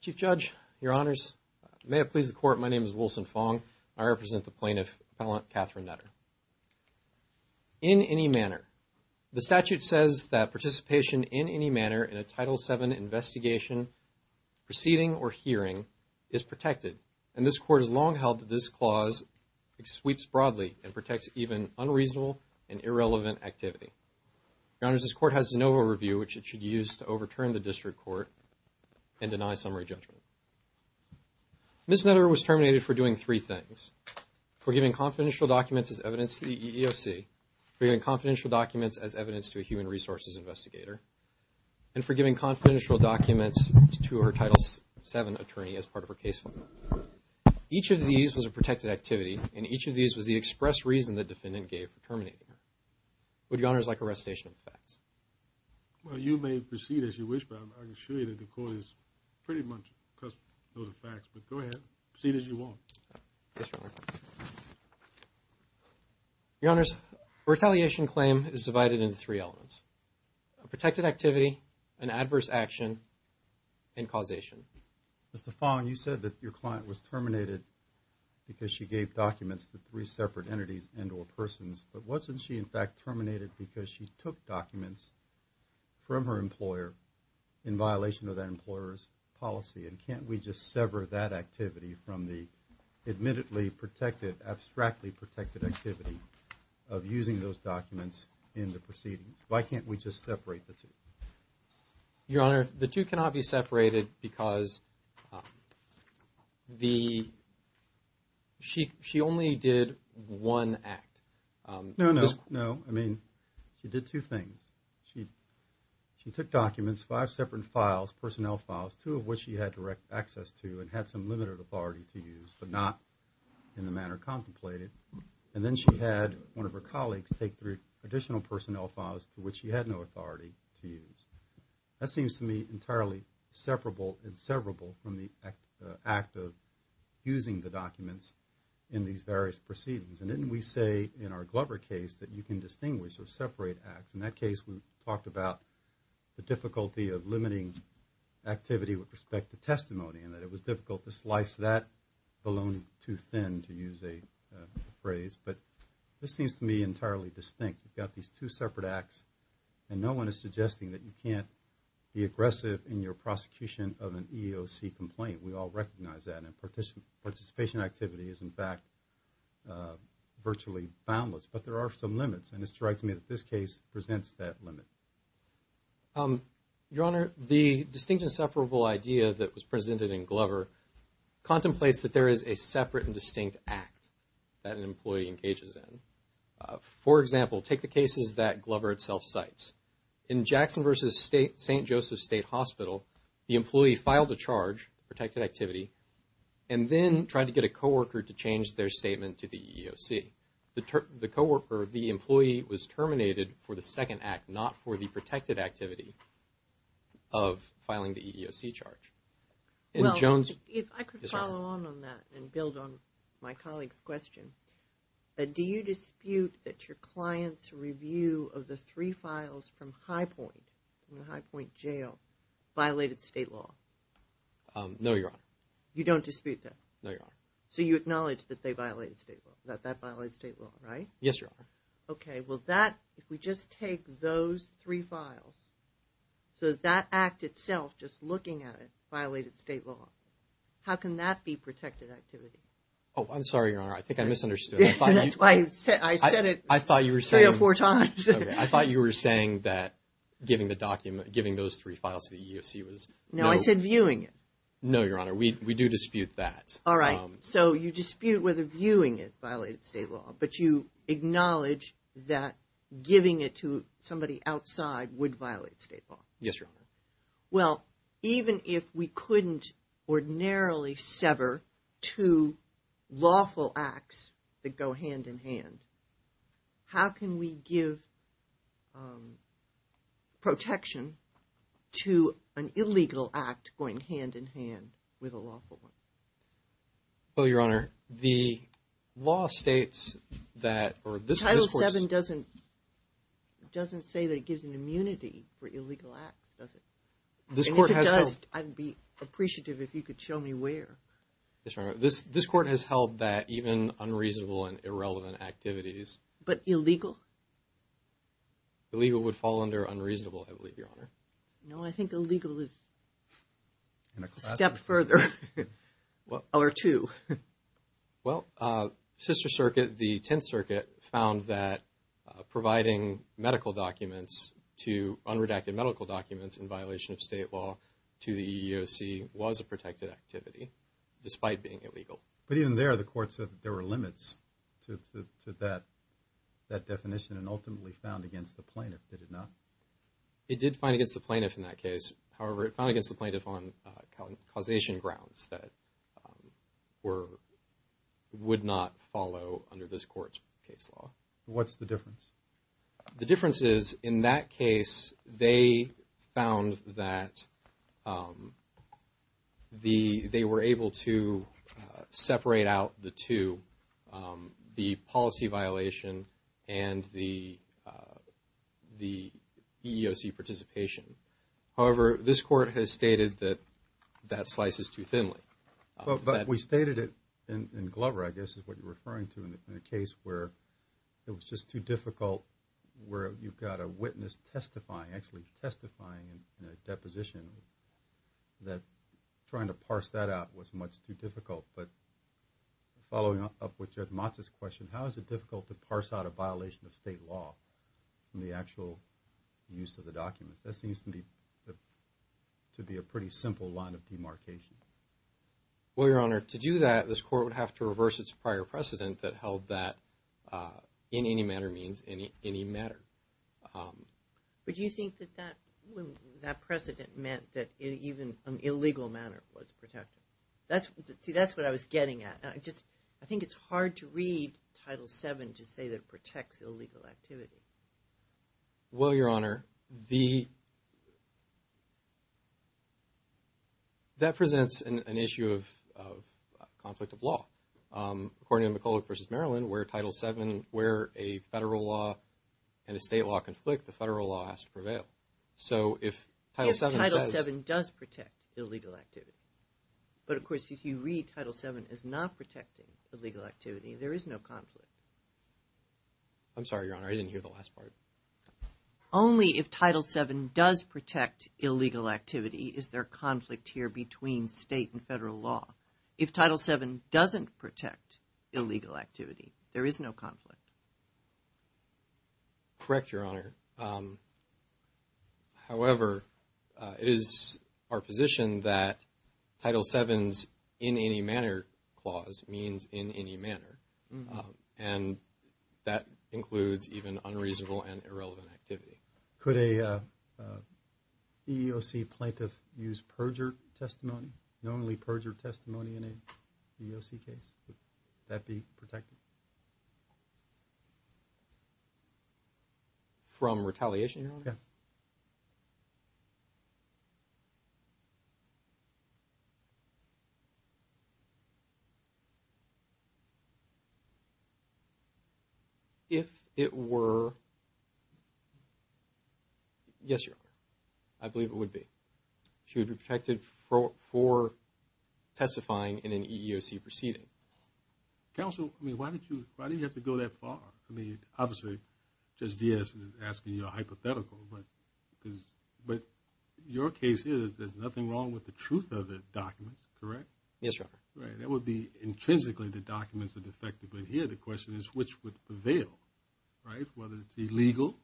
Chief Judge, Your Honors, may it please the Court, my name is Wilson Fong. I represent the Plaintiff, Appellant Catherine Netter. In any manner, the statute says that participation in any manner in a Title VII investigation, proceeding or hearing, is protected, and this Court has long held that this clause sweeps broadly and protects even unreasonable and irrelevant activity. Your Honors, this Court has no overview which it should use to overturn the District Court and deny summary judgment. Ms. Netter was terminated for doing three things, for giving confidential documents as evidence to the EEOC, for giving confidential documents as evidence to a human resources investigator, and for giving confidential documents to her Title VII attorney as part of her case file. Each of these was a protected activity, and each of these was the express reason the defendant gave for terminating her. Would Your Honors like a recitation of the facts? Well, you may proceed as you wish, but I can assure you that the Court is pretty much custodial of the facts, but go ahead, proceed as you want. Yes, Your Honor. Your Honors, a retaliation claim is divided into three elements, a protected activity, an adverse action, and causation. Mr. Fong, you said that your client was terminated because she gave documents to three separate entities and or persons, but wasn't she in fact terminated because she took documents from her employer in violation of that employer's policy, and can't we just sever that activity from the admittedly protected, abstractly protected activity of using those documents in the proceedings? Why can't we just separate the two? Your Honor, the two cannot be separated because she only did one act. No, no, no. I mean, she did two things. She took documents, five separate files, personnel files, two of which she had direct access to and had some limited authority to use, but not in the manner contemplated, and then she had one of her colleagues take three additional personnel files to which she had no authority to use. That seems to me entirely inseparable from the act of using the documents in these various proceedings, and didn't we say in our Glover case that you can distinguish or separate acts? In that case, we talked about the difficulty of limiting activity with respect to testimony and that it was difficult to slice that balloon too thin, to use a phrase, but this seems to me entirely distinct. We've got these two separate acts, and no one is suggesting that you can't be aggressive in your prosecution of an EEOC complaint. We all recognize that, and participation activity is, in fact, virtually boundless, but there are some limits, and it's right to me that this case presents that limit. Your Honor, the distinct and separable idea that was presented in Glover contemplates that there is a separate and distinct act that an employee engages in. For example, take the cases that Glover itself cites. In Jackson v. St. Joseph State Hospital, the employee filed a charge, protected activity, and then tried to get a co-worker to change their statement to the EEOC. The co-worker, the employee, was terminated for the second act, not for the protected activity of filing the EEOC charge. Well, if I could follow on that and build on my colleague's question, do you dispute that your client's review of the three files from High Point, from the High Point Jail, violated state law? No, Your Honor. You don't dispute that? No, Your Honor. So you acknowledge that they violated state law, that that violated state law, right? Yes, Your Honor. Okay. Well, that, if we just take those three files, so that act itself, just looking at it, violated state law, how can that be protected activity? Oh, I'm sorry, Your Honor. I think I misunderstood. I thought you were saying that giving the document, giving those three files to the EEOC was... No, I said viewing it. No, Your Honor. We do dispute that. All right. So you dispute whether viewing it violated state law, but you acknowledge that giving it to somebody outside would violate state law? Yes, Your Honor. Well, even if we couldn't ordinarily sever two lawful acts that go hand in hand, how can we give protection to an illegal act going hand in hand with a lawful one? Oh, Your Honor, the law states that, or this court has held... I mean, if it does, I'd be appreciative if you could show me where. Yes, Your Honor. This court has held that even unreasonable and irrelevant activities... But illegal? Illegal would fall under unreasonable, I believe, Your Honor. No, I think illegal is a step further or two. Well, Sister Circuit, the Tenth Circuit, found that providing medical documents to unredacted medical documents in violation of state law to the EEOC was a protected activity, despite being illegal. But even there, the court said that there were limits to that definition and ultimately found against the plaintiff, did it not? It did find against the plaintiff in that case. However, it found against the plaintiff on causation grounds that would not follow under this court's case law. What's the difference? The difference is, in that case, they found that they were able to separate out the two, the policy violation and the EEOC participation. However, this court has stated that that slice is too thinly. But we stated it in Glover, I guess, is what you're referring to in a case where it was just too difficult, where you've got a witness testifying, actually testifying in a deposition, that trying to parse that out was much too difficult. But following up with Judge Motz's question, how is it difficult to parse out a violation of state law from the actual use of the documents? That seems to be a pretty simple line of demarcation. Well, Your Honor, to do that, this court would have to reverse its prior precedent that held that in any matter means, in any matter. But do you think that that precedent meant that even in an illegal manner was protected? See, that's what I was getting at. I think it's hard to read Title VII to say that it protects illegal activity. Well, Your Honor, that presents an issue of conflict of law. According to McCulloch v. Maryland, where Title VII, where a federal law and a state law conflict, the federal law has to prevail. So if Title VII says... If Title VII does protect illegal activity. But of course, if you read Title VII as not protecting illegal activity, there is no conflict. I'm sorry, Your Honor, I didn't hear the last part. Only if Title VII does protect illegal activity is there conflict here between state and federal law. If Title VII doesn't protect illegal activity, there is no conflict. Correct Your Honor. However, it is our position that Title VII's in any manner clause means in any manner. And that includes even unreasonable and irrelevant activity. Could a EEOC plaintiff use perjured testimony, normally perjured testimony in an EEOC case? Would that be protected? From retaliation, Your Honor? Yeah. If it were... Yes, Your Honor. I believe it would be. She would be protected for testifying in an EEOC proceeding. Counsel, I mean, why did you have to go that far? I mean, obviously, Judge Diaz is asking you a hypothetical, but your case is there's nothing wrong with the truth of the documents, correct? Yes, Your Honor. Right. That would be intrinsically the documents that effectively adhere. The question is which would prevail, right, whether it's illegal or not.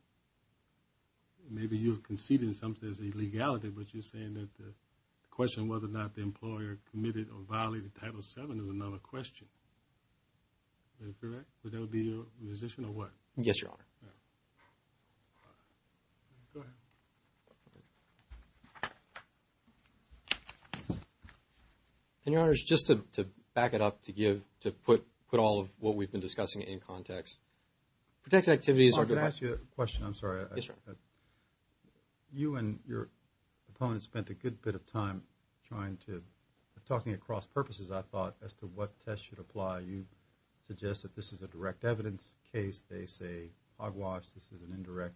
Maybe you're conceding something that's illegality, but you're saying that the question whether or not the employer committed or violated Title VII is another question. Is that correct? Would that be your position, or what? Yes, Your Honor. All right. Go ahead. And Your Honors, just to back it up, to give, to put all of what we've been discussing in context, protected activities are... I have a question. I'm sorry. Yes, Your Honor. You and your opponent spent a good bit of time trying to, talking across purposes, I thought, as to what test should apply. You suggest that this is a direct evidence case. They say hogwash. This is an indirect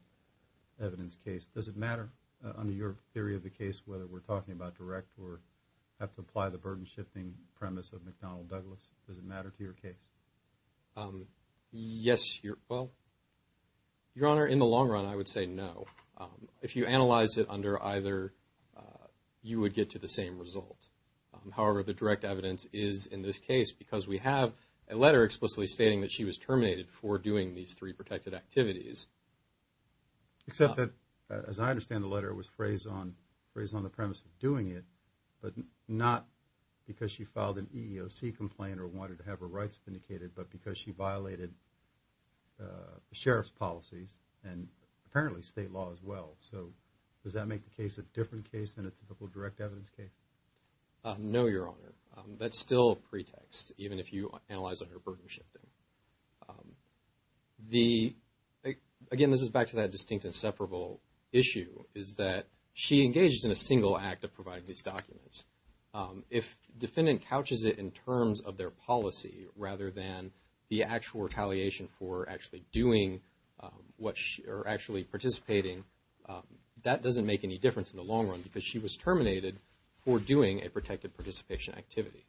evidence case. Does it matter under your theory of the case whether we're talking about direct or have to apply the burden-shifting premise of McDonnell Douglas? Does it matter to your case? Yes, Your... Well, Your Honor, in the long run, I would say no. If you analyze it under either, you would get to the same result. However, the direct evidence is in this case because we have a letter explicitly stating that she was terminated for doing these three protected activities. Except that, as I understand the letter, it was phrased on the premise of doing it, but not because she filed an EEOC complaint or wanted to have her rights vindicated, but because she violated the sheriff's policies and apparently state law as well. So, does that make the case a different case than a typical direct evidence case? No, Your Honor. That's still a pretext, even if you analyze under burden-shifting. The... Again, this is back to that distinct and separable issue, is that she engages in a single act of providing these documents. If defendant couches it in terms of their policy rather than the actual retaliation for actually doing what she... or actually participating, that doesn't make any difference in the long run because she was terminated for doing a protected participation activity.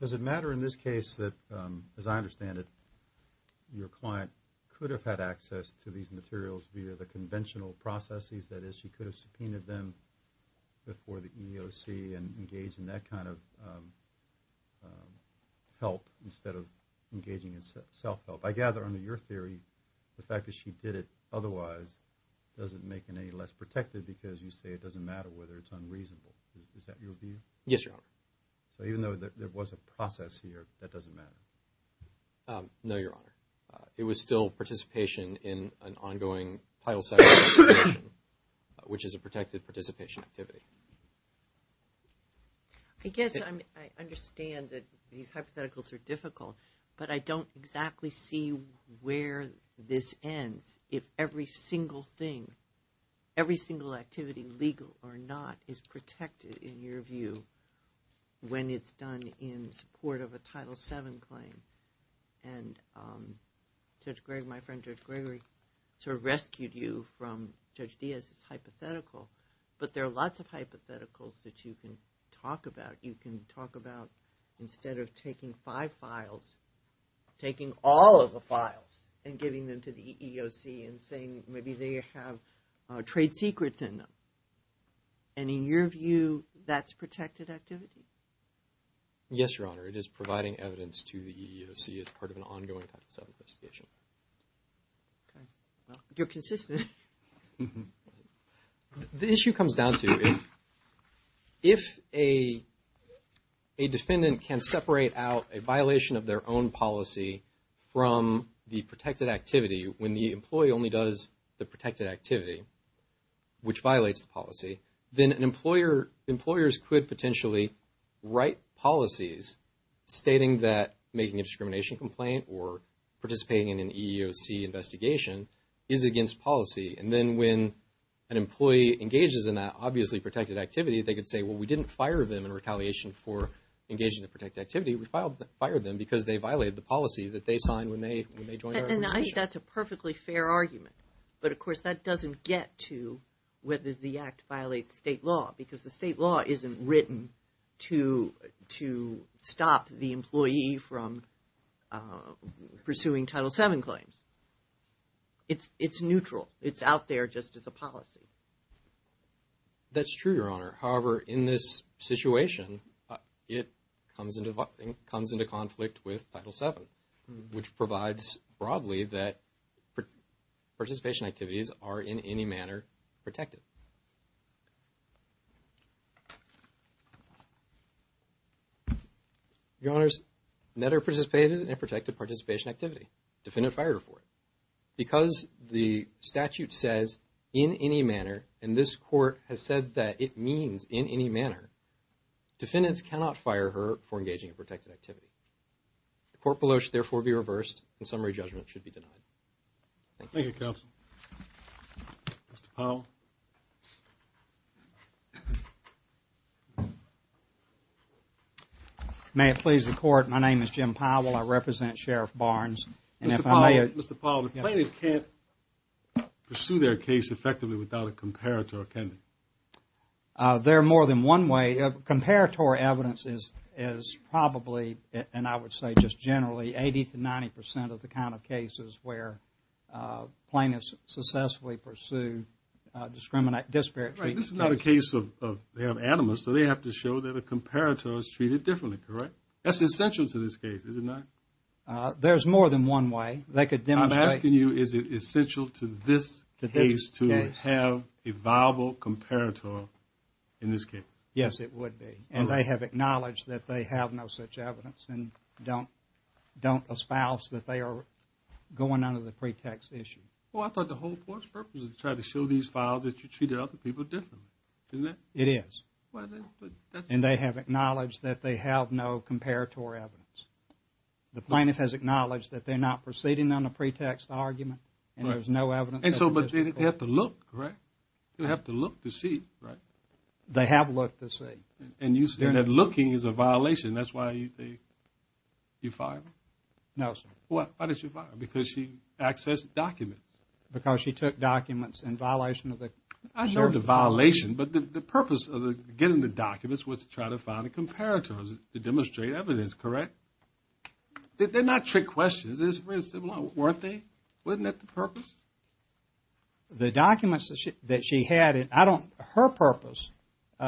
Does it matter in this case that, as I understand it, your client could have had access to these materials via the conventional processes? That is, she could have subpoenaed them before the EEOC and engaged in that kind of help instead of engaging in self-help. I gather, under your theory, the fact that she did it otherwise doesn't make it any less protected because you say it doesn't matter whether it's unreasonable. Is that your view? Yes, Your Honor. So even though there was a process here, that doesn't matter? No, Your Honor. It was still participation in an ongoing title section, which is a protected participation activity. I guess I understand that these hypotheticals are difficult, but I don't exactly see where this ends if every single thing, every single activity, legal or not, is protected in your view when it's done in support of a Title VII claim. And Judge Gregory, my friend Judge Gregory, sort of rescued you from Judge Diaz's hypothetical, but there are lots of hypotheticals that you can talk about. You can talk about instead of taking five files, taking all of the files and giving them to the EEOC and saying maybe they have trade secrets in them. And in your view, that's protected activity? Yes, Your Honor. It is providing evidence to the EEOC as part of an ongoing Title VII investigation. Okay. Well, you're consistent. The issue comes down to if a defendant can separate out a violation of their own policy from the protected activity when the employee only does the protected activity, which violates the policy, then employers could potentially write policies stating that making a discrimination complaint or participating in an EEOC investigation is against policy. And then when an employee engages in that obviously protected activity, they could say, well, we didn't fire them in And I think that's a perfectly fair argument. But of course, that doesn't get to whether the Act violates state law, because the state law isn't written to stop the employee from pursuing Title VII claims. It's neutral. It's out there just as a policy. That's true, Your Honor. However, in this situation, it comes into conflict with Title VII, which provides broadly that participation activities are in any manner protected. Your Honors, netter-participated and protected participation activity. Defendant fired for it. Because the statute says, in any manner, and this Court has said that it means in any manner, defendants cannot fire her for engaging in protected activity. The court below should therefore be reversed and summary judgment should be denied. Thank you, counsel. Mr. Powell. May it please the Court, my name is Jim Powell. I represent Sheriff Barnes. Mr. Powell, plaintiffs can't pursue their case effectively without a comparator, can they? There are more than one way. Comparator evidence is probably, and I would say just generally, 80 to 90 percent of the kind of cases where plaintiffs successfully pursue disparate treatment. Right. This is not a case of they have animus, so they have to show that a comparator is treated differently, correct? That's essential to this case, is it not? There's more than one way. They could demonstrate... I'm asking you, is it essential to this case to have a viable comparator in this case? Yes, it would be. And they have acknowledged that they have no such evidence and don't espouse that they are going under the pretext issue. Well, I thought the whole purpose was to try to show these files that you treated other people differently, isn't it? It is. And they have acknowledged that they have no comparator evidence. The plaintiff has acknowledged that they're not proceeding on a pretext argument and there's no evidence... And so they have to look, correct? They have to look to see, right? They have looked to see. And you say that looking is a violation, that's why you fired her? No, sir. Why did you fire her? Because she accessed documents. Because she took documents in violation of the... I know it's a violation, but the purpose of getting the documents was to try to find a comparator to demonstrate evidence, correct? They're not trick questions, weren't they? Wasn't that the purpose? The documents that she had, I don't... Her purpose,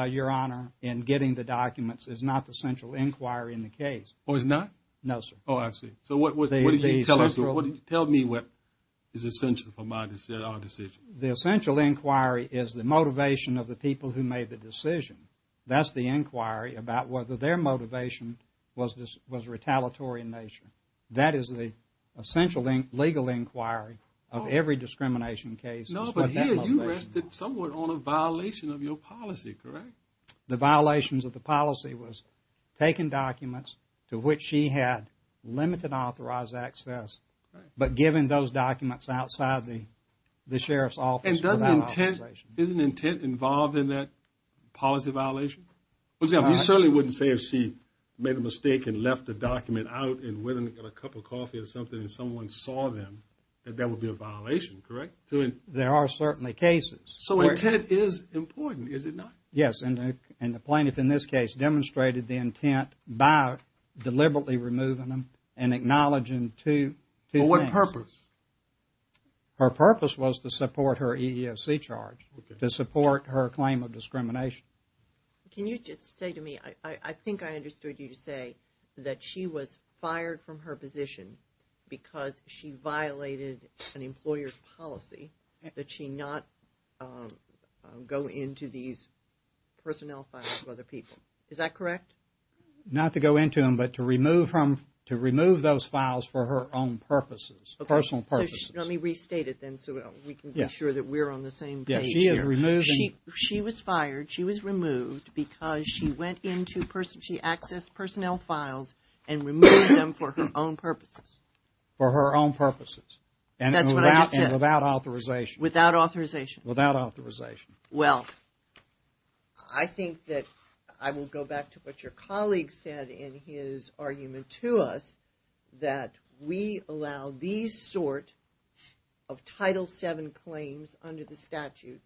Your Honor, in getting the documents is not the central inquiry in the case. Oh, it's not? No, sir. Oh, I see. So what did you tell me is essential for my decision? First, the essential inquiry is the motivation of the people who made the decision. That's the inquiry about whether their motivation was retaliatory in nature. That is the essential legal inquiry of every discrimination case. No, but here you rested somewhat on a violation of your policy, correct? The violations of the policy was taking documents to which she had limited authorized access, but giving those documents outside the sheriff's office without authorization. And is an intent involved in that policy violation? For example, you certainly wouldn't say if she made a mistake and left the document out and went and got a cup of coffee or something and someone saw them that that would be a violation, correct? There are certainly cases. So intent is important, is it not? Yes, and the plaintiff in this case demonstrated the intent by deliberately removing them and acknowledging two things. But what purpose? Her purpose was to support her EEOC charge, to support her claim of discrimination. Can you just say to me, I think I understood you to say that she was fired from her position because she violated an employer's policy that she not go into these personnel files for other people. Is that correct? Not to go into them, but to remove those files for her own purposes, personal purposes. Let me restate it then so we can be sure that we're on the same page here. She was fired. She was removed because she accessed personnel files and removed them for her own purposes. For her own purposes. That's what I just said. And without authorization. Without authorization. Without authorization. Well, I think that I will go back to what your colleague said in his argument to us, that we allow these sort of Title VII claims under the statute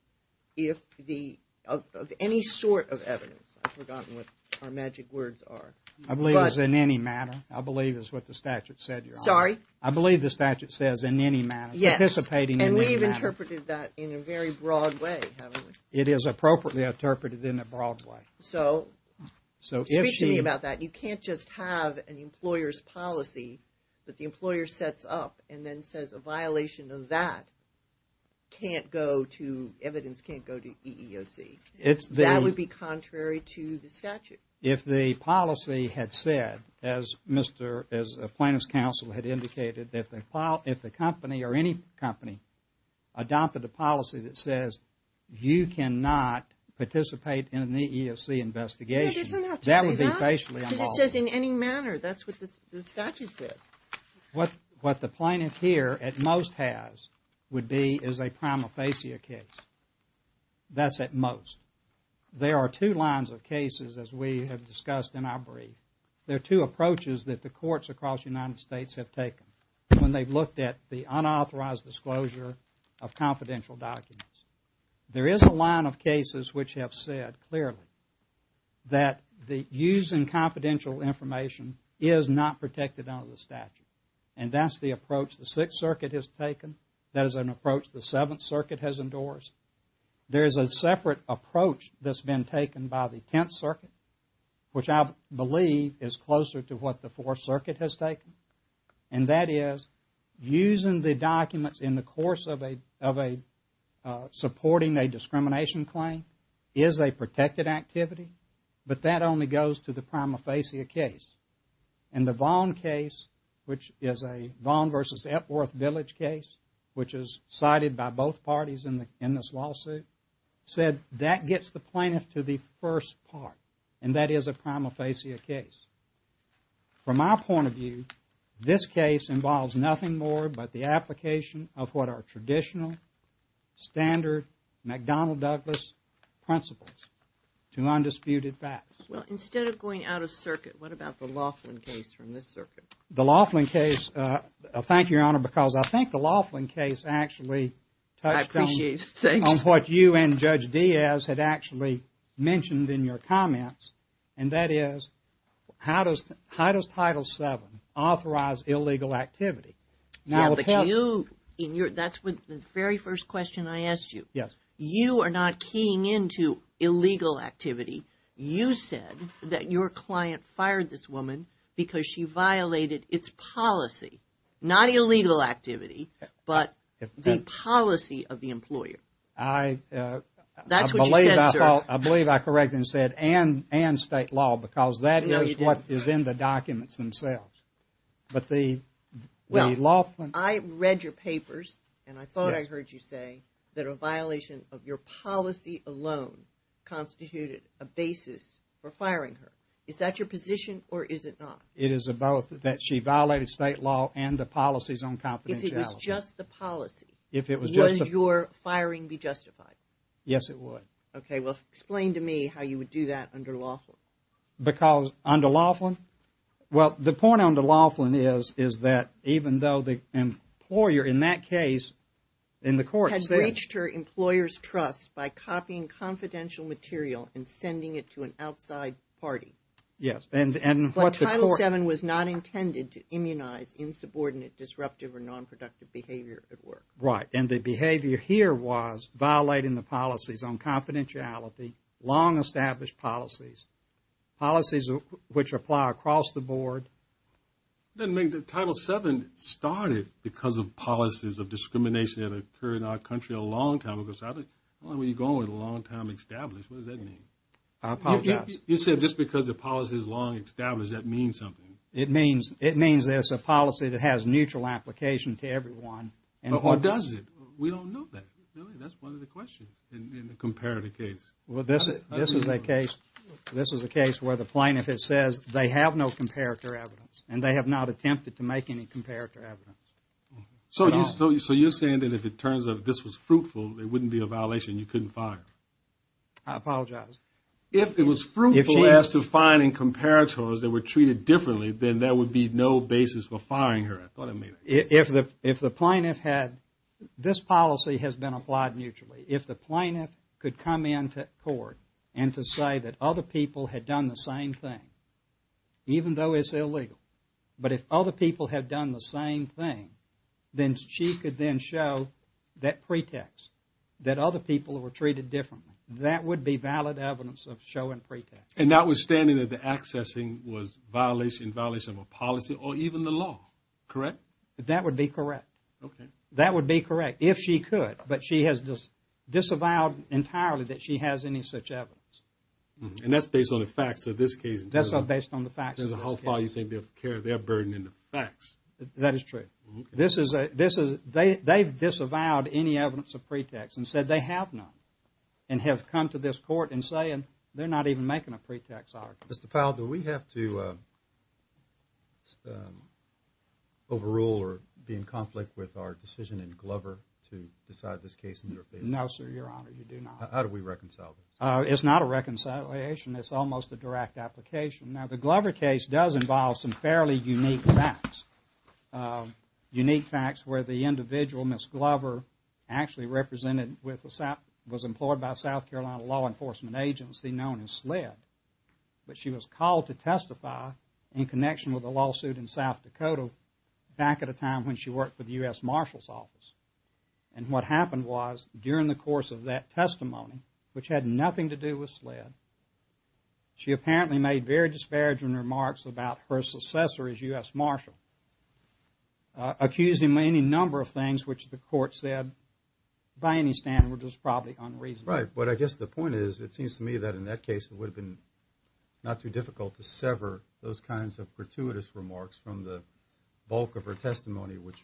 of any sort of evidence. I've forgotten what our magic words are. I believe it's in any manner. I believe it's what the statute said, Your Honor. Sorry? I believe the statute says in any manner. Yes. Anticipating in any manner. And we've interpreted that in a very broad way, haven't we? It is appropriately interpreted in a broad way. So, speak to me about that. You can't just have an employer's policy that the employer sets up and then says a violation of that can't go to, evidence can't go to EEOC. That would be contrary to the statute. If the policy had said, as Mr. Plaintiff's counsel had indicated, if the company or any company adopted a policy that says you cannot participate in an EEOC investigation. It doesn't have to say that. That would be facially unlawful. Because it says in any manner. That's what the statute says. What the plaintiff here at most has would be is a prima facie case. That's at most. There are two lines of cases, as we have discussed in our brief. There are two approaches that the courts across the United States have taken when they've looked at the unauthorized disclosure of confidential documents. There is a line of cases which have said clearly that the use of confidential information is not protected under the statute. And that's the approach the Sixth Circuit has taken. That is an approach the Seventh Circuit has endorsed. There is a separate approach that's been taken by the Tenth Circuit, which I believe is closer to what the Fourth Circuit has taken. And that is using the documents in the course of a supporting a discrimination claim is a protected activity. But that only goes to the prima facie case. And the Vaughn case, which is a Vaughn versus Epworth Village case, which is cited by both parties in this lawsuit, said that gets the plaintiff to the first part. And that is a prima facie case. From my point of view, this case involves nothing more but the application of what are traditional, standard McDonnell-Douglas principles to undisputed facts. Well, instead of going out of circuit, what about the Laughlin case from this circuit? The Laughlin case, thank you, Your Honor, because I think the Laughlin case actually touched on what you and Judge Diaz had actually mentioned in your comments. And that is, how does Title VII authorize illegal activity? That's the very first question I asked you. Yes. You are not keying into illegal activity. You said that your client fired this woman because she violated its policy. Not illegal activity, but the policy of the employer. That's what you said, sir. I believe I corrected and said, and state law, because that is what is in the documents themselves. But the Laughlin... Well, I read your papers, and I thought I heard you say that a violation of your policy alone constituted a basis for firing her. Is that your position, or is it not? It is both, that she violated state law and the policies on confidentiality. If it was just the policy, would your firing be justified? Yes, it would. Okay, well, explain to me how you would do that under Laughlin. Under Laughlin? Well, the point under Laughlin is that even though the employer in that case, in the court... Had breached her employer's trust by copying confidential material and sending it to an outside party. Yes, and what the court... Right, and the behavior here was violating the policies on confidentiality, long-established policies. Policies which apply across the board. That means that Title VII started because of policies of discrimination that occurred in our country a long time ago. Why were you going with a long-time established? What does that mean? I apologize. You said just because the policy is long-established, that means something. It means there's a policy that has neutral application to everyone. Or does it? We don't know that. That's one of the questions in the comparative case. Well, this is a case where the plaintiff says they have no comparative evidence. And they have not attempted to make any comparative evidence. So you're saying that if it turns out this was fruitful, it wouldn't be a violation, you couldn't fire her? I apologize. If it was fruitful as to finding comparators that were treated differently, then there would be no basis for firing her. I thought I made that clear. If the plaintiff had... This policy has been applied mutually. If the plaintiff could come into court and to say that other people had done the same thing, even though it's illegal, but if other people had done the same thing, then she could then show that pretext, that other people were treated differently. That would be valid evidence of showing pretext. And notwithstanding that the accessing was violation, violation of a policy or even the law, correct? That would be correct. Okay. That would be correct, if she could. But she has disavowed entirely that she has any such evidence. And that's based on the facts of this case. That's based on the facts of this case. How far you think they'll carry their burden in the facts. That is true. They've disavowed any evidence of pretext and said they have none. And have come to this court and saying they're not even making a pretext argument. Mr. Powell, do we have to overrule or be in conflict with our decision in Glover to decide this case? No, sir, your honor, you do not. How do we reconcile this? It's not a reconciliation. It's almost a direct application. Now, the Glover case does involve some fairly unique facts. Unique facts where the individual, Ms. Glover, actually represented with the South, was employed by a South Carolina law enforcement agency known as SLED. But she was called to testify in connection with a lawsuit in South Dakota back at a time when she worked for the U.S. Marshal's office. And what happened was, during the course of that testimony, which had nothing to do with SLED, she apparently made very disparaging remarks about her successor as U.S. Marshal. Accusing her of any number of things which the court said, by any standard, was probably unreasonable. Right, but I guess the point is, it seems to me that in that case, it would have been not too difficult to sever those kinds of gratuitous remarks from the bulk of her testimony which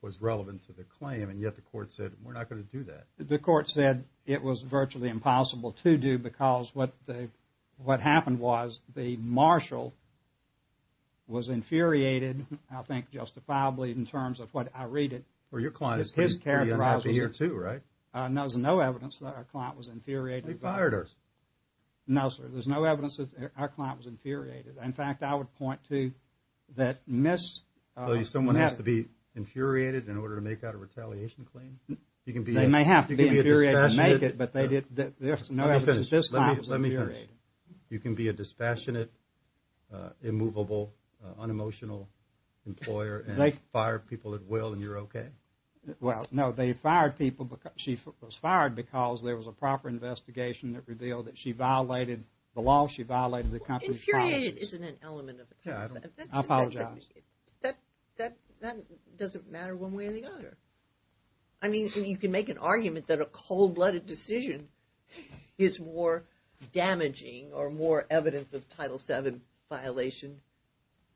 was relevant to the claim. And yet the court said, we're not going to do that. The court said it was virtually impossible to do because what happened was, the Marshal was infuriated, I think justifiably in terms of what I read it. Well, your client is pretty unhappy here too, right? No, there's no evidence that our client was infuriated. They fired her. No, sir, there's no evidence that our client was infuriated. In fact, I would point to that Ms. So someone has to be infuriated in order to make out a retaliation claim? They may have to be infuriated to make it, but there's no evidence that this client was infuriated. You can be a dispassionate, immovable, unemotional employer and fire people at will and you're okay? Well, no, they fired people, she was fired because there was a proper investigation that revealed that she violated the law, she violated the conference promises. Well, infuriated isn't an element of it. I apologize. That doesn't matter one way or the other. I mean, you can make an argument that a cold-blooded decision is more damaging or more evidence of Title VII violation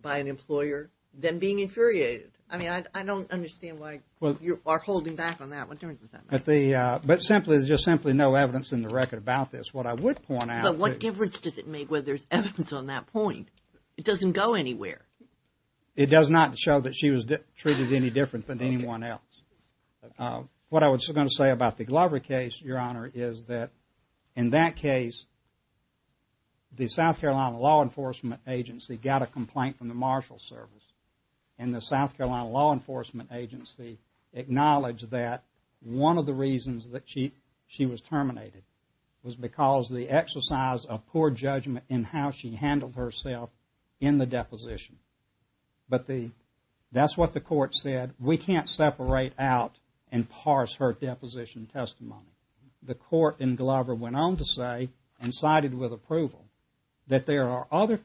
by an employer than being infuriated. I mean, I don't understand why you are holding back on that. What difference does that make? But simply, there's just simply no evidence in the record about this. What I would point out. But what difference does it make whether there's evidence on that point? It doesn't go anywhere. It does not show that she was treated any different than anyone else. What I was going to say about the Glover case, Your Honor, is that in that case, the South Carolina Law Enforcement Agency got a complaint from the Marshal Service and the South Carolina Law Enforcement Agency acknowledged that one of the reasons that she was terminated was because of the exercise of poor judgment in how she handled herself in the deposition. But that's what the court said. We can't separate out and parse her deposition testimony. The court in Glover went on to say and cited with approval that there are other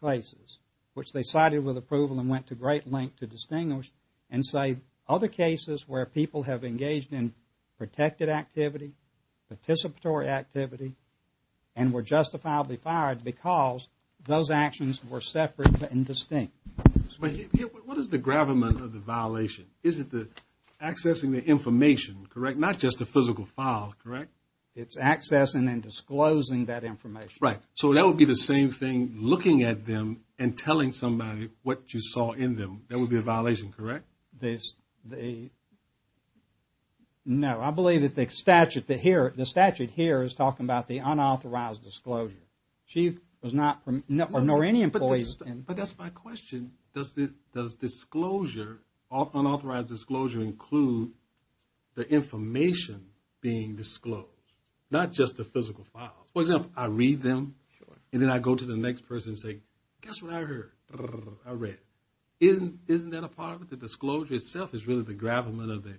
cases which they cited with approval and went to great length to distinguish and cite other cases where people have engaged in protected activity, participatory activity, and were justifiably fired because those actions were separate and distinct. But what is the gravamen of the violation? Is it the accessing the information, correct, not just the physical file, correct? It's accessing and disclosing that information. Right. So that would be the same thing looking at them and telling somebody what you saw in them. That would be a violation, correct? They, no, I believe that the statute here is talking about the unauthorized disclosure. She was not, nor any employees. But that's my question. Does disclosure, unauthorized disclosure include the information being disclosed? Not just the physical files. For example, I read them and then I go to the next person and say, guess what I heard? I read it. Isn't that a part of it? The disclosure itself is really the gravamen of the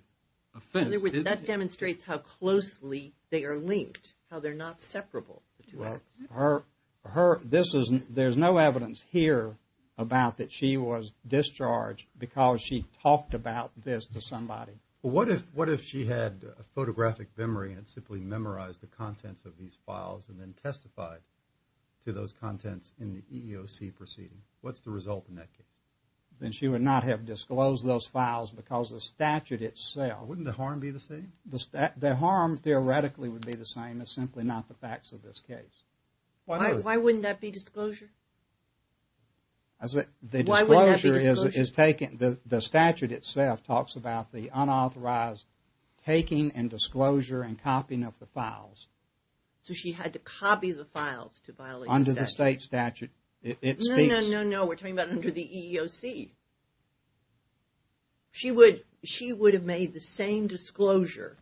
offense. In other words, that demonstrates how closely they are linked, how they're not separable. There's no evidence here about that she was discharged because she talked about this to somebody. What if she had a photographic memory and simply memorized the contents of these files and then testified to those contents in the EEOC proceeding? What's the result in that case? Then she would not have disclosed those files because the statute itself. Wouldn't the harm be the same? The harm theoretically would be the same. It's simply not the facts of this case. Why wouldn't that be disclosure? The disclosure is taken, the statute itself talks about the unauthorized taking and disclosure and copying of the files. So she had to copy the files to violate the statute. No, no, no. We're talking about under the EEOC. She would have made the same disclosure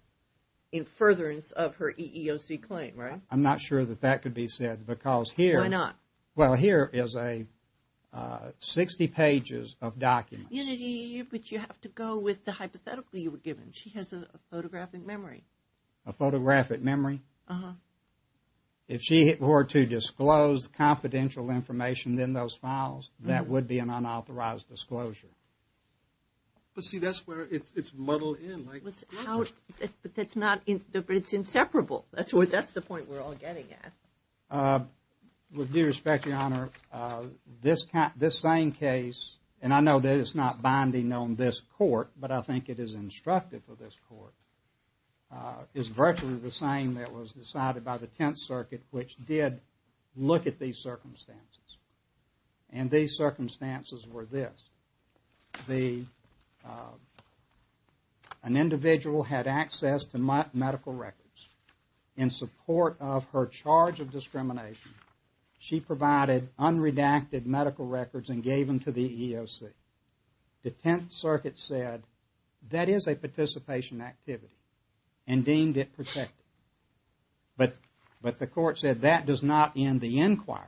in furtherance of her EEOC claim, right? I'm not sure that that could be said because here. Why not? Well, here is 60 pages of documents. But you have to go with the hypothetical you were given. She has a photographic memory. A photographic memory? Uh-huh. If she were to disclose confidential information in those files, that would be an unauthorized disclosure. But see, that's where it's muddled in. But it's inseparable. That's the point we're all getting at. With due respect, Your Honor, this same case, and I know that it's not binding on this court, but I think it is instructive of this court, is virtually the same that was decided by the Tenth Circuit, which did look at these circumstances. And these circumstances were this. An individual had access to medical records. In support of her charge of discrimination, she provided unredacted medical records and gave them to the EEOC. The Tenth Circuit said that is a participation activity and deemed it protected. But the court said that does not end the inquiry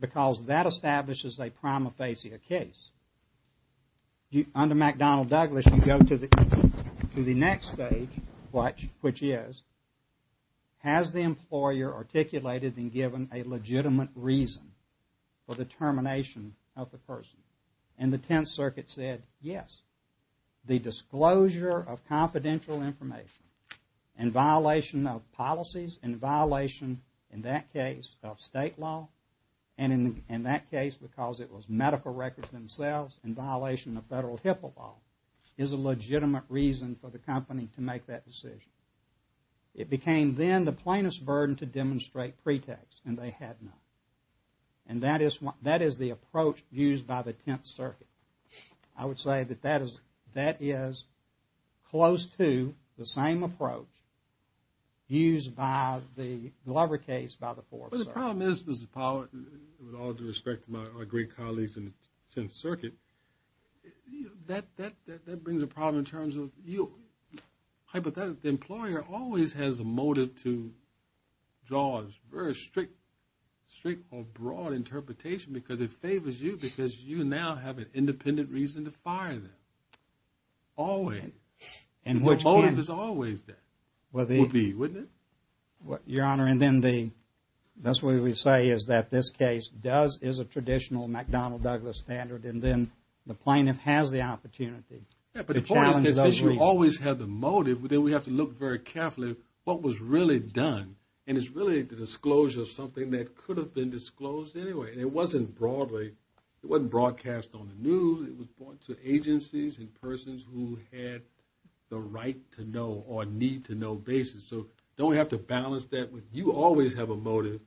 because that establishes a prima facie case. Under McDonnell-Douglas, you go to the next stage, which is, has the employer articulated and given a legitimate reason for the termination of the person? And the Tenth Circuit said, yes. The disclosure of confidential information in violation of policies, in violation, in that case, of state law, and in that case because it was medical records themselves, in violation of federal HIPAA law, is a legitimate reason for the company to make that decision. It became then the plaintiff's burden to demonstrate pretext, and they had none. And that is the approach used by the Tenth Circuit. I would say that that is close to the same approach used by the Glover case by the Fourth Circuit. Well, the problem is, Mr. Powell, with all due respect to my great colleagues in the Tenth Circuit, that brings a problem in terms of you. Hypothetically, the employer always has a motive to draw a very strict or broad interpretation because it favors you because you now have an independent reason to fire them. Always. And what motive is always there? Would be, wouldn't it? Your Honor, and then the, that's what we say is that this case does, is a traditional McDonnell-Douglas standard, and then the plaintiff has the opportunity. Yeah, but the point is that since you always have the motive, then we have to look very carefully at what was really done. And it's really the disclosure of something that could have been disclosed anyway. And it wasn't broadly, it wasn't broadcast on the news. It was brought to agencies and persons who had the right to know or need to know basis. So don't we have to balance that? You always have a motive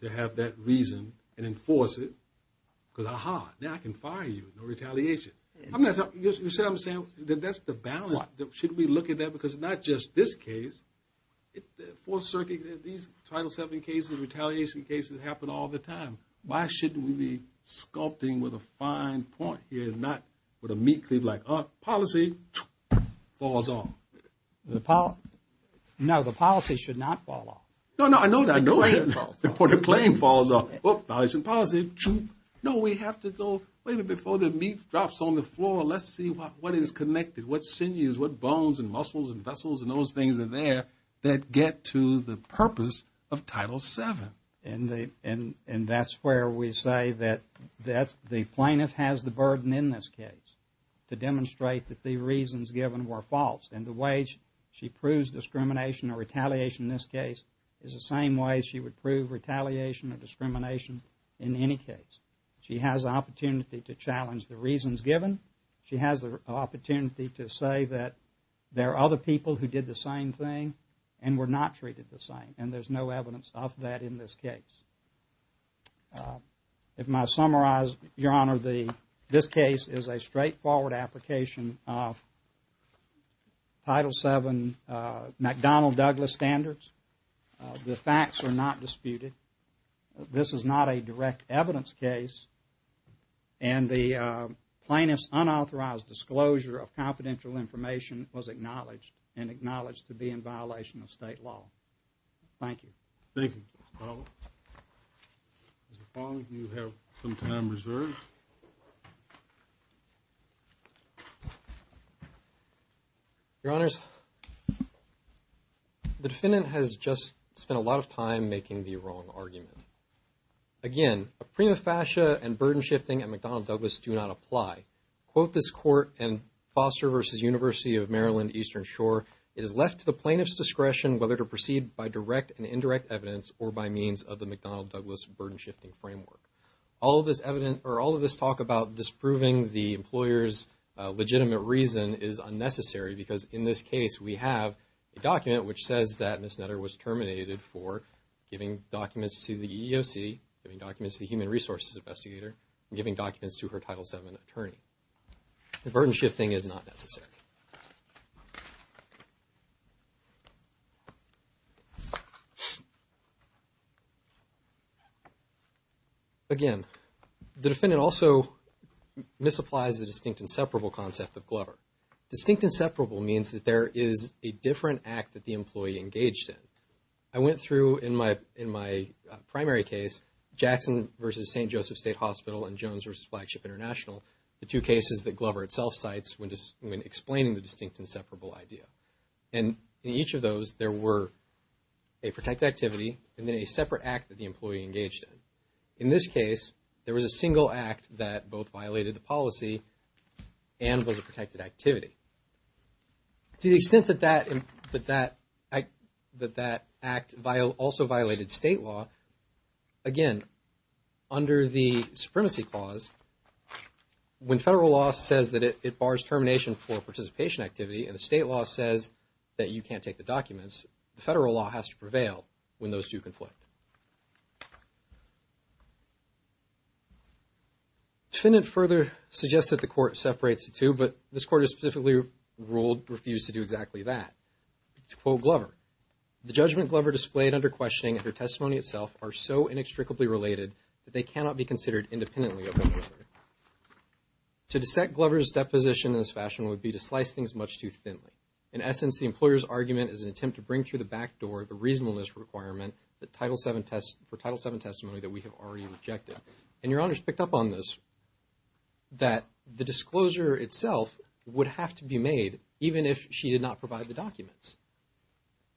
to have that reason and enforce it because, aha, now I can fire you. No retaliation. I'm not talking, you see what I'm saying? That's the balance. Should we look at that? Because not just this case, Fourth Circuit, these Title VII cases, retaliation cases happen all the time. Why shouldn't we be sculpting with a fine point here and not with a meat cleaver like, oh, policy, falls off. No, the policy should not fall off. No, no, I know that. The claim falls off. The claim falls off. Oh, violation of policy. No, we have to go, wait a minute, before the meat drops on the floor, let's see what is connected, what sinews, what bones and muscles and vessels and those things are there that get to the purpose of Title VII. And that's where we say that the plaintiff has the burden in this case to demonstrate that the reasons given were false. And the way she proves discrimination or retaliation in this case is the same way she would prove retaliation or discrimination in any case. She has the opportunity to challenge the reasons given. She has the opportunity to say that there are other people who did the same thing and were not treated the same. And there's no evidence of that in this case. If I may summarize, Your Honor, this case is a straightforward application of Title VII McDonnell Douglas standards. The facts are not disputed. This is not a direct evidence case. And the plaintiff's unauthorized disclosure of confidential information was acknowledged and acknowledged to be in violation of state law. Thank you. Thank you, Mr. Fowler. Mr. Fowler, you have some time reserved. Your Honors, the defendant has just spent a lot of time making the wrong argument. Again, a prima facie and burden shifting at McDonnell Douglas do not apply. Quote this court in Foster v. University of Maryland Eastern Shore, It is left to the plaintiff's discretion whether to proceed by direct and indirect evidence or by means of the McDonnell Douglas burden shifting framework. All of this evidence or all of this talk about disproving the employer's legitimate reason is unnecessary because in this case we have a document which says that Ms. Nutter was terminated for giving documents to the EEOC, giving documents to the Human Resources Investigator, and giving documents to her Title VII attorney. The burden shifting is not necessary. Again, the defendant also misapplies the distinct and separable concept of Glover. Distinct and separable means that there is a different act that the employee engaged in. I went through in my primary case, Jackson v. St. Joseph State Hospital and Jones v. Flagship International, the two cases that Glover itself cites when explaining the distinct and separable idea. And in each of those, there were a protected activity and then a separate act that the employee engaged in. In this case, there was a single act that both violated the policy and was a protected activity. To the extent that that act also violated state law, again, under the Supremacy Clause, when federal law says that it bars termination for participation activity and the state law says that you can't take the documents, the federal law has to prevail when those two conflict. The defendant further suggests that the court separates the two, but this court has specifically refused to do exactly that. To quote Glover, To dissect Glover's deposition in this fashion would be to slice things much too thinly. In essence, the employer's argument is an attempt to bring through the back door the reasonableness requirement for Title VII testimony that we have already rejected. And Your Honors picked up on this, that the disclosure itself would have to be made, even if she did not provide the documents.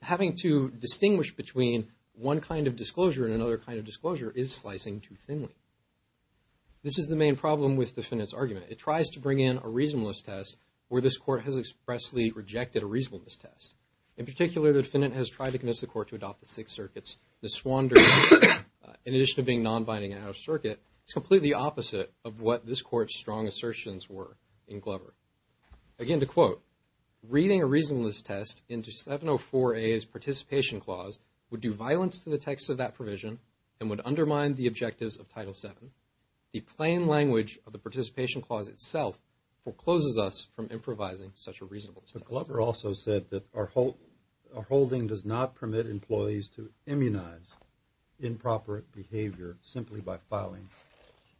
Having to distinguish between one kind of disclosure and another kind of disclosure is slicing too thinly. This is the main problem with the defendant's argument. It tries to bring in a reasonableness test where this court has expressly rejected a reasonableness test. In particular, the defendant has tried to convince the court to adopt the Sixth Circuit's miswandering test, in addition to being non-binding and out-of-circuit. It's completely opposite of what this court's strong assertions were in Glover. Again, to quote, Glover also said that our holding does not permit employees to immunize improper behavior simply by filing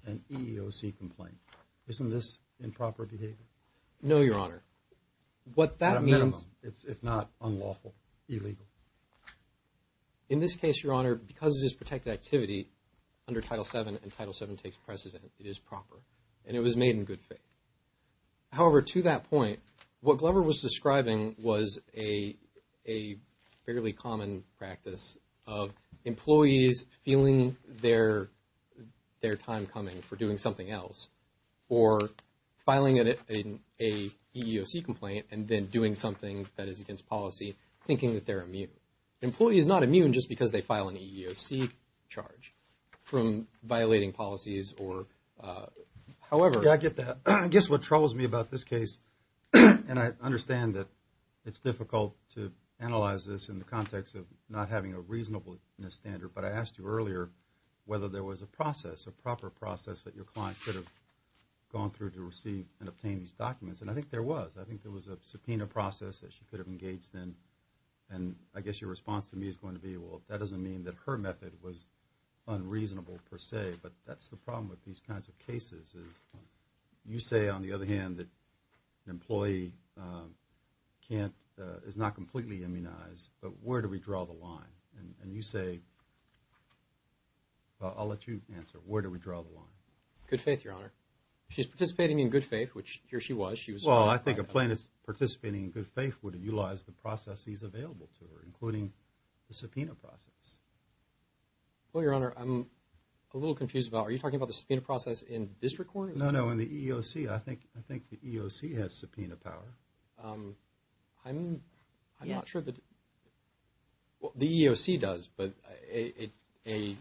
an EEOC complaint. Isn't this improper behavior? No, Your Honor. At a minimum, it's if not unlawful, illegal. In this case, Your Honor, because it is protected activity under Title VII and Title VII takes precedent, it is proper and it was made in good faith. However, to that point, what Glover was describing was a fairly common practice of employees feeling their time coming for doing something else or filing an EEOC complaint and then doing something that is against policy thinking that they're immune. Employees are not immune just because they file an EEOC charge from violating policies or however. Yeah, I get that. I guess what troubles me about this case, and I understand that it's difficult to analyze this in the context of not having a reasonable standard, but I asked you earlier whether there was a process, a proper process that your client could have gone through to receive and obtain these documents. And I think there was. I think there was a subpoena process that she could have engaged in. And I guess your response to me is going to be, well, that doesn't mean that her method was unreasonable per se, but that's the problem with these kinds of cases is you say, on the other hand, that an employee can't, is not completely immunized, but where do we draw the line? And you say, well, I'll let you answer. Where do we draw the line? Good faith, Your Honor. She's participating in good faith, which here she was. Well, I think a plaintiff participating in good faith would have utilized the processes available to her, including the subpoena process. Well, Your Honor, I'm a little confused about, are you talking about the subpoena process in district court? No, no, in the EEOC. I think the EEOC has subpoena power. I'm not sure that, well, the EEOC does, but a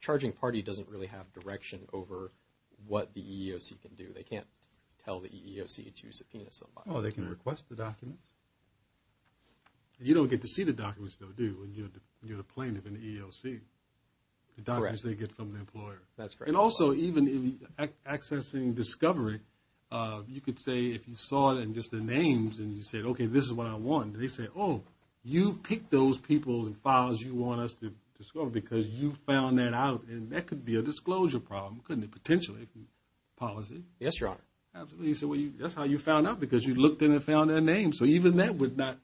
charging party doesn't really have direction over what the EEOC can do. They can't tell the EEOC to subpoena somebody. Oh, they can request the documents. You don't get to see the documents, though, do you, when you're a plaintiff in the EEOC? Correct. The documents they get from the employer. That's correct. And also, even in accessing discovery, you could say, if you saw it in just the names, and you said, okay, this is what I want. They say, oh, you picked those people and files you want us to discover because you found that out, and that could be a disclosure problem, couldn't it? Yes, Your Honor. That's how you found out, because you looked in and found their names, so even that would not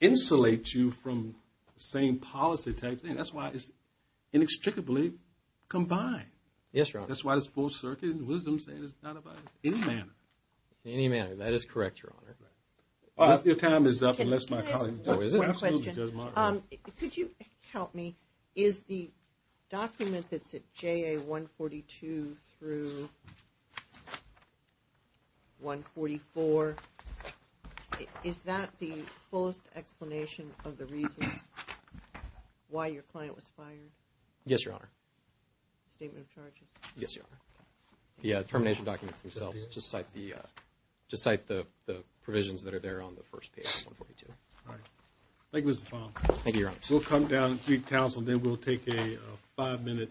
insulate you from the same policy type thing. That's why it's inextricably combined. Yes, Your Honor. That's why it's full circuit and wisdom saying it's not about any manner. Any manner, that is correct, Your Honor. Your time is up, unless my colleague... One question. Could you help me? Is the document that said JA 142 through 144, is that the fullest explanation of the reasons why your client was fired? Yes, Your Honor. Statement of charges? Yes, Your Honor. The termination documents themselves just cite the provisions that are there on the first page of 142. All right. Thank you, Mr. Fong. Thank you, Your Honor. We'll come down and greet counsel, and then we'll take a five-minute recess.